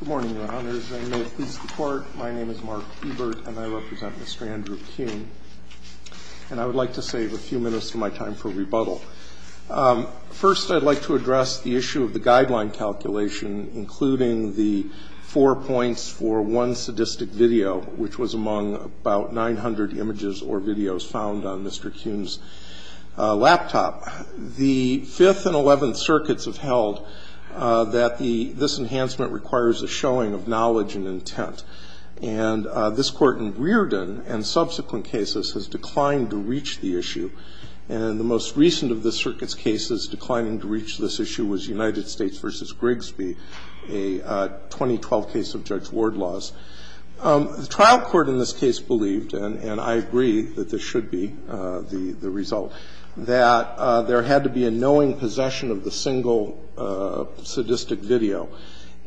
Good morning, Your Honors, and may it please the Court, my name is Mark Ebert and I represent Mr. Andrew Kuhn. And I would like to save a few minutes of my time for rebuttal. First, I'd like to address the issue of the guideline calculation, including the four points for one sadistic video, which was among about 900 images or videos found on Mr. Kuhn's laptop. The Fifth and Eleventh Circuits have held that this enhancement requires a showing of knowledge and intent. And this Court in Rearden and subsequent cases has declined to reach the issue. And the most recent of the Circuit's cases declining to reach this issue was United States v. Grigsby, a 2012 case of Judge Ward laws. The trial court in this case believed, and I agree that this should be the result, that there had to be a knowing possession of the single sadistic video.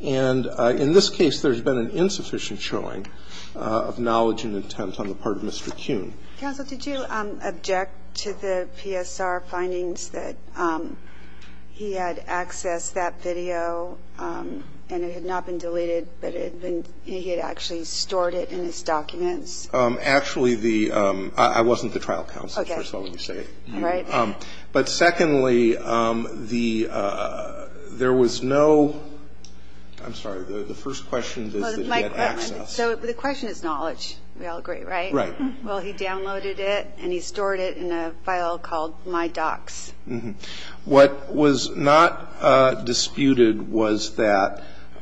And in this case, there's been an insufficient showing of knowledge and intent on the part of Mr. Kuhn. Counsel, did you object to the PSR findings that he had accessed that video and it had not been deleted, but he had actually stored it in his documents? Actually, the – I wasn't the trial counsel, first of all, let me say that. All right. But secondly, the – there was no – I'm sorry, the first question is that he had access. So the question is knowledge, we all agree, right? Well, he downloaded it and he stored it in a file called My Docs. What was not disputed was that –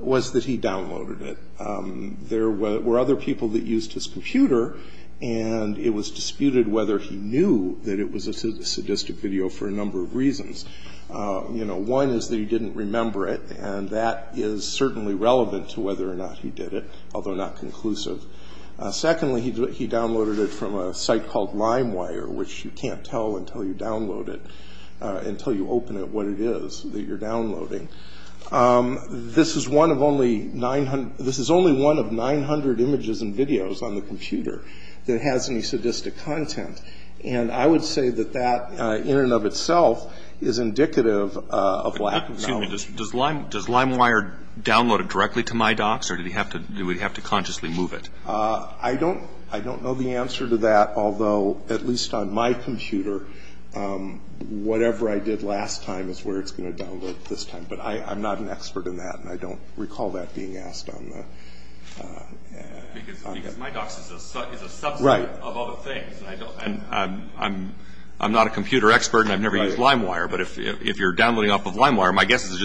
was that he downloaded it. There were other people that used his computer, and it was disputed whether he knew that it was a sadistic video for a number of reasons. You know, one is that he didn't remember it, and that is certainly relevant to whether or not he did it, although not conclusive. Secondly, he downloaded it from a site called LimeWire, which you can't tell until you download it – until you open it what it is that you're downloading. This is one of only 900 – this is only one of 900 images and videos on the computer that has any sadistic content. And I would say that that, in and of itself, is indicative of lack of knowledge. Does LimeWire download it directly to My Docs, or do we have to consciously move it? I don't know the answer to that, although, at least on my computer, whatever I did last time is where it's going to download it this time. But I'm not an expert in that, and I don't recall that being asked on the – Because My Docs is a subset of other things. I'm not a computer expert, and I've never used LimeWire, but if you're downloading off of LimeWire, my guess is it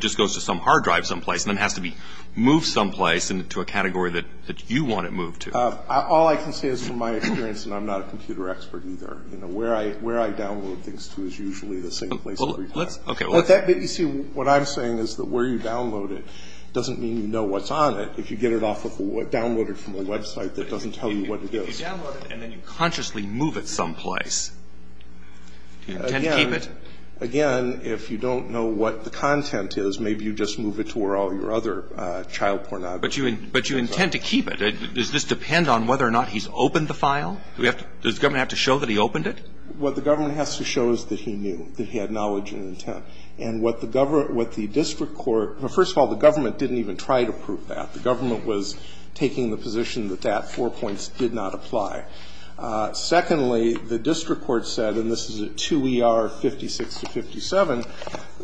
just goes to some hard drive someplace and then has to be moved someplace into a category that you want it moved to. All I can say is from my experience, and I'm not a computer expert either, where I download things to is usually the same place every time. But you see, what I'm saying is that where you download it doesn't mean you know what's on it. If you get it off of a – download it from a website that doesn't tell you what it is. If you download it and then you consciously move it someplace, do you intend to keep it? Again, if you don't know what the content is, maybe you just move it to where all your other child pornography is. But you intend to keep it. Does this depend on whether or not he's opened the file? Does the government have to show that he opened it? What the government has to show is that he knew, that he had knowledge and intent. And what the district court – first of all, the government didn't even try to prove that. The government was taking the position that that four points did not apply. Secondly, the district court said, and this is at 2 E.R. 56 to 57,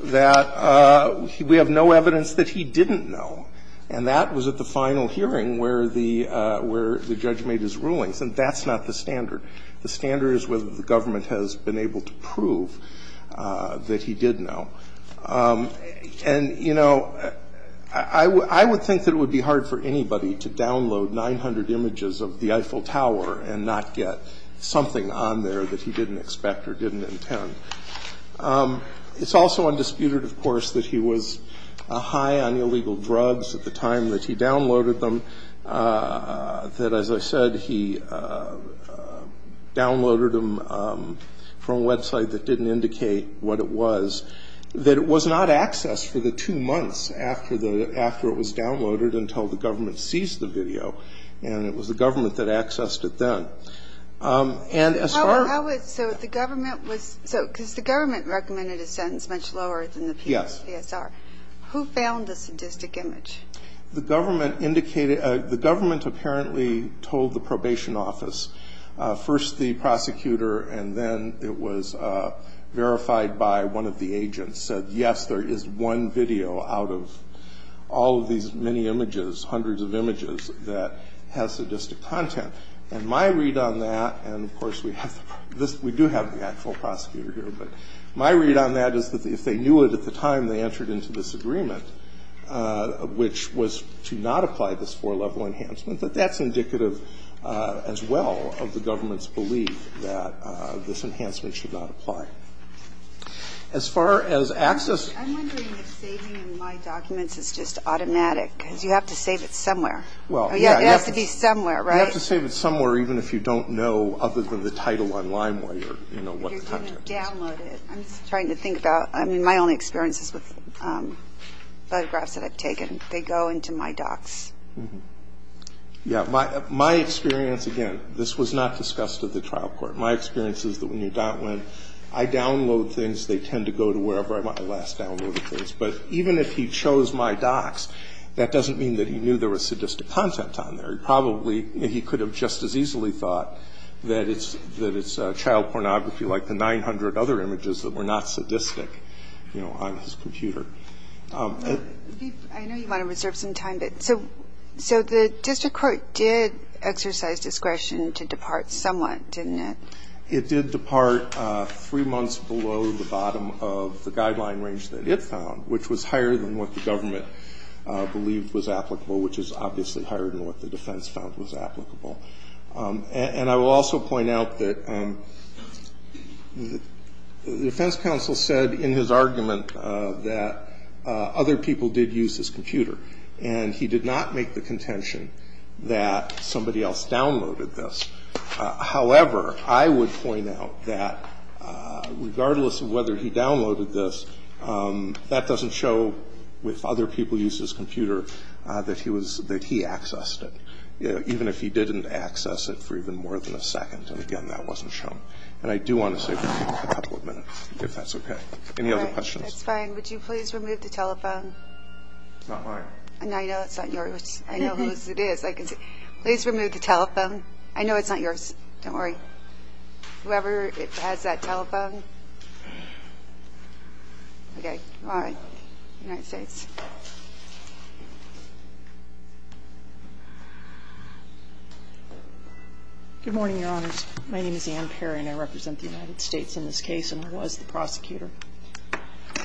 that we have no evidence that he didn't know, and that was at the final hearing where the judge made his rulings. And that's not the standard. The standard is whether the government has been able to prove that he did know. And, you know, I would think that it would be hard for anybody to download 900 images of the Eiffel Tower and not get something on there that he didn't expect or didn't intend. It's also undisputed, of course, that he was high on illegal drugs at the time that he downloaded them, that, as I said, he downloaded them from a website that didn't indicate what it was. That it was not accessed for the two months after it was downloaded until the government seized the video. And it was the government that accessed it then. And as far as – So the government was – because the government recommended a sentence much lower than the PSVSR. Yes. Who found the sadistic image? The government indicated – the government apparently told the probation office, first the prosecutor and then it was verified by one of the agents, said, yes, there is one video out of all of these many images, hundreds of images, that has sadistic content. And my read on that – and, of course, we do have the actual prosecutor here. But my read on that is that if they knew it at the time they entered into this agreement, which was to not apply this four-level enhancement, that that's indicative as well. All of the governments believe that this enhancement should not apply. As far as access – I'm wondering if saving in My Documents is just automatic. Because you have to save it somewhere. Well, yeah. It has to be somewhere, right? You have to save it somewhere even if you don't know other than the title on LimeWay or, you know, what the content is. If you're going to download it. I'm just trying to think about – I mean, my only experience is with photographs that I've taken. They go into My Docs. Yeah. My experience – again, this was not discussed at the trial court. My experience is that when you don't – when I download things, they tend to go to wherever I last downloaded things. But even if he chose My Docs, that doesn't mean that he knew there was sadistic content on there. He probably – he could have just as easily thought that it's child pornography like the 900 other images that were not sadistic, you know, on his computer. I know you want to reserve some time. So the district court did exercise discretion to depart somewhat, didn't it? It did depart three months below the bottom of the guideline range that it found, which was higher than what the government believed was applicable, which is obviously higher than what the defense found was applicable. And I will also point out that the defense counsel said in his argument that other people did use his computer, and he did not make the contention that somebody else downloaded this. However, I would point out that regardless of whether he downloaded this, that doesn't show, if other people used his computer, that he accessed it, even if he didn't access it for even more than a second. And, again, that wasn't shown. And I do want to save a couple of minutes, if that's okay. Any other questions? That's fine. Would you please remove the telephone? It's not mine. No, I know it's not yours. I know whose it is. Please remove the telephone. I know it's not yours. Don't worry. Whoever has that telephone. Okay. All right. United States. Good morning, Your Honors. My name is Ann Perry, and I represent the United States in this case, and I was the prosecutor.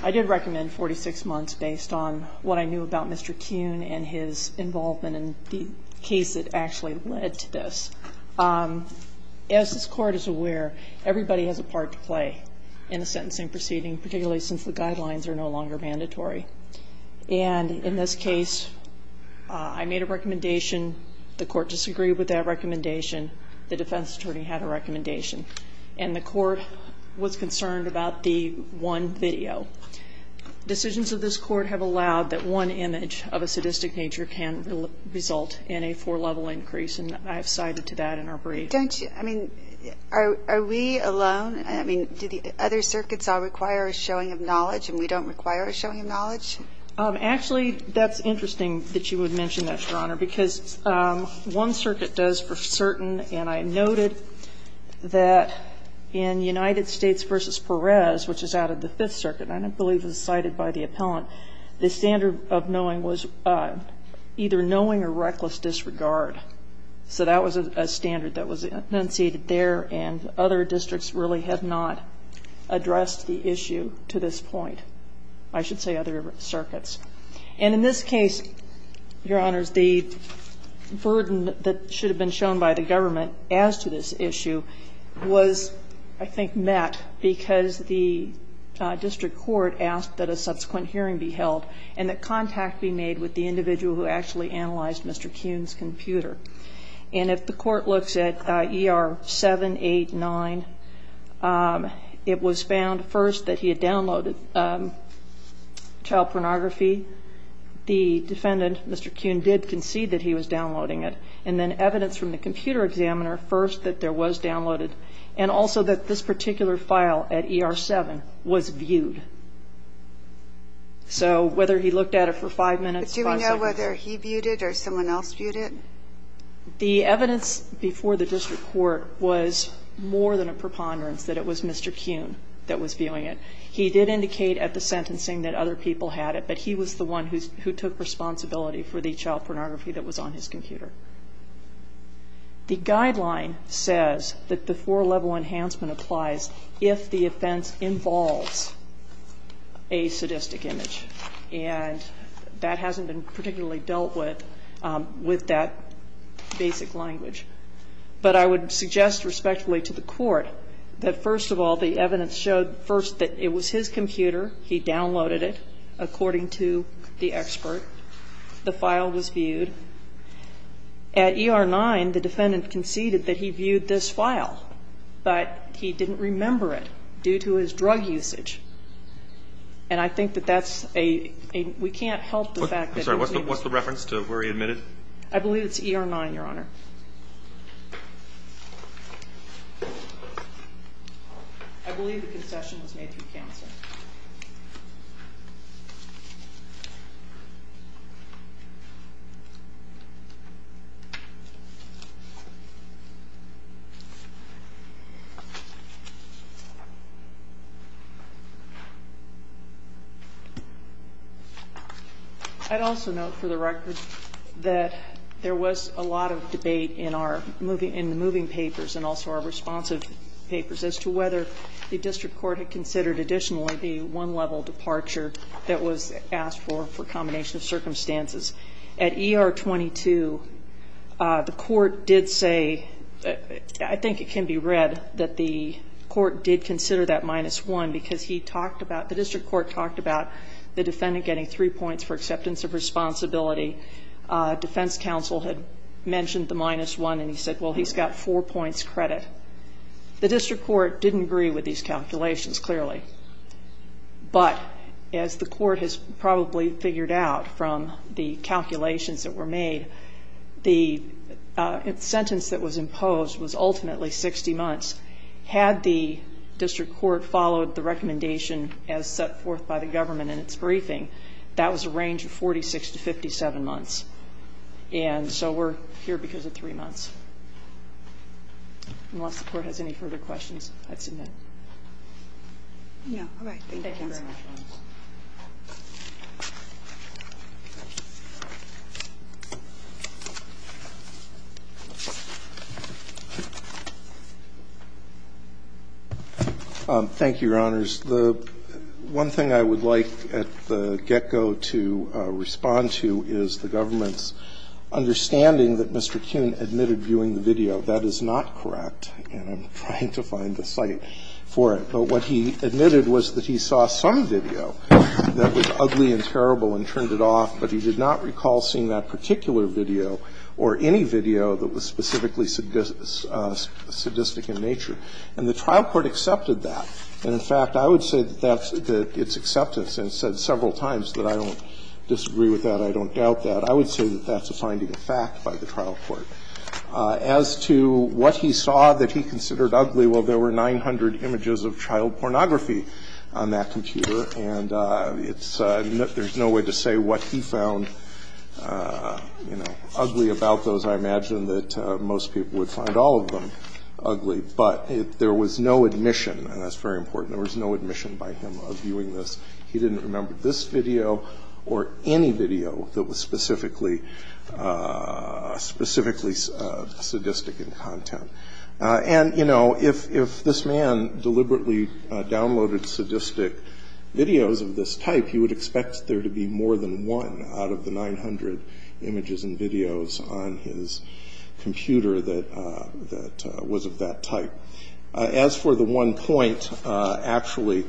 I did recommend 46 months based on what I knew about Mr. Kuhn and his involvement in the case that actually led to this. As this Court is aware, everybody has a part to play in a sentencing proceeding, particularly since the guidelines are no longer mandatory. And in this case, I made a recommendation. The Court disagreed with that recommendation. The defense attorney had a recommendation, and the Court was concerned about the one video. Decisions of this Court have allowed that one image of a sadistic nature can result in a four-level increase, and I have cited to that in our brief. Don't you? I mean, are we alone? I mean, do the other circuits all require a showing of knowledge and we don't require a showing of knowledge? Actually, that's interesting that you would mention that, Your Honor, because one circuit does for certain, and I noted that in United States v. Perez, which is out of the Fifth Circuit, and I believe it was cited by the appellant, the standard of knowing was either knowing or reckless disregard. So that was a standard that was enunciated there, and other districts really have not addressed the issue to this point. I should say other circuits. And in this case, Your Honors, the burden that should have been shown by the government as to this issue was, I think, met because the district court asked that a subsequent hearing be held and that contact be made with the individual who actually analyzed Mr. Kuhn's computer. And if the Court looks at ER 789, it was found first that he had downloaded child pornography. The defendant, Mr. Kuhn, did concede that he was downloading it, and then evidence from the computer examiner, first, that there was downloaded, and also that this particular file at ER 7 was viewed. So whether he looked at it for five minutes, five seconds. But do we know whether he viewed it or someone else viewed it? The evidence before the district court was more than a preponderance, that it was Mr. Kuhn that was viewing it. He did indicate at the sentencing that other people had it, but he was the one who took responsibility for the child pornography that was on his computer. The guideline says that the four-level enhancement applies if the offense involves a sadistic image. And that hasn't been particularly dealt with with that basic language. But I would suggest respectfully to the Court that, first of all, the evidence showed first that it was his computer, he downloaded it, according to the expert. The file was viewed. At ER 9, the defendant conceded that he viewed this file, but he didn't remember it due to his drug usage. And I think that that's a we can't help the fact that he was able to. I'm sorry. What's the reference to where he admitted? I believe it's ER 9, Your Honor. I believe the concession was made through counsel. I'd also note for the record that there was a lot of debate in the moving papers and also our responsive papers as to whether the district court had considered additionally the one-level departure that was asked for, for combination of circumstances. At ER 22, the court did say, I think it can be read, that the court did consider that minus one because he talked about, the district court talked about the defendant getting three points for acceptance of responsibility. Defense counsel had mentioned the minus one, and he said, well, he's got four points credit. The district court didn't agree with these calculations, clearly. But as the court has probably figured out from the calculations that were made, the sentence that was imposed was ultimately 60 months. Had the district court followed the recommendation as set forth by the government in its briefing, that was a range of 46 to 57 months. And so we're here because of three months. Unless the court has any further questions, I'd submit. All right. Thank you very much. Thank you, Your Honors. The one thing I would like at the get-go to respond to is the government's understanding that Mr. Kuhn admitted viewing the video. That is not correct, and I'm trying to find the site. But what he admitted was that he saw some video that was ugly and terrible and turned it off, but he did not recall seeing that particular video or any video that was specifically sadistic in nature. And the trial court accepted that. And, in fact, I would say that that's its acceptance and said several times that I don't disagree with that, I don't doubt that. I would say that that's a finding of fact by the trial court. As to what he saw that he considered ugly, well, there were 900 images of child pornography on that computer, and there's no way to say what he found ugly about those. I imagine that most people would find all of them ugly. But there was no admission, and that's very important, there was no admission by him of viewing this. He didn't remember this video or any video that was specifically sadistic in content. And, you know, if this man deliberately downloaded sadistic videos of this type, he would expect there to be more than one out of the 900 images and videos on his computer that was of that type. As for the one point, actually,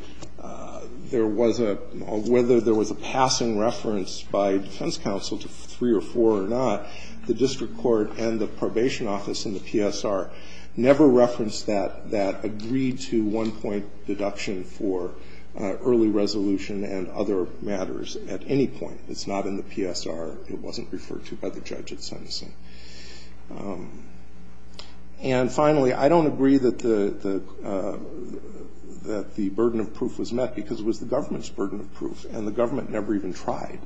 there was a — whether there was a passing reference by defense counsel to three or four or not, the district court and the probation office in the PSR never referenced that, that agreed-to one-point deduction for early resolution and other matters at any point. It's not in the PSR. It wasn't referred to by the judge at Senneson. And finally, I don't agree that the burden of proof was met because it was the government's burden of proof, and the government never even tried.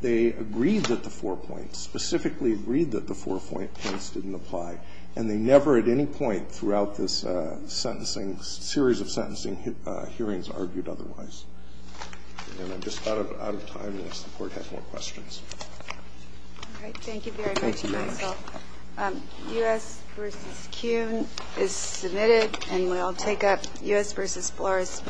They agreed that the four points, specifically agreed that the four points didn't apply, and they never at any point throughout this sentencing, series of sentencing hearings, argued otherwise. And I'm just out of time unless the Court has more questions. All right. Thank you very much, Michael. U.S. v. CUNY is submitted, and we'll take up U.S. v. Flores.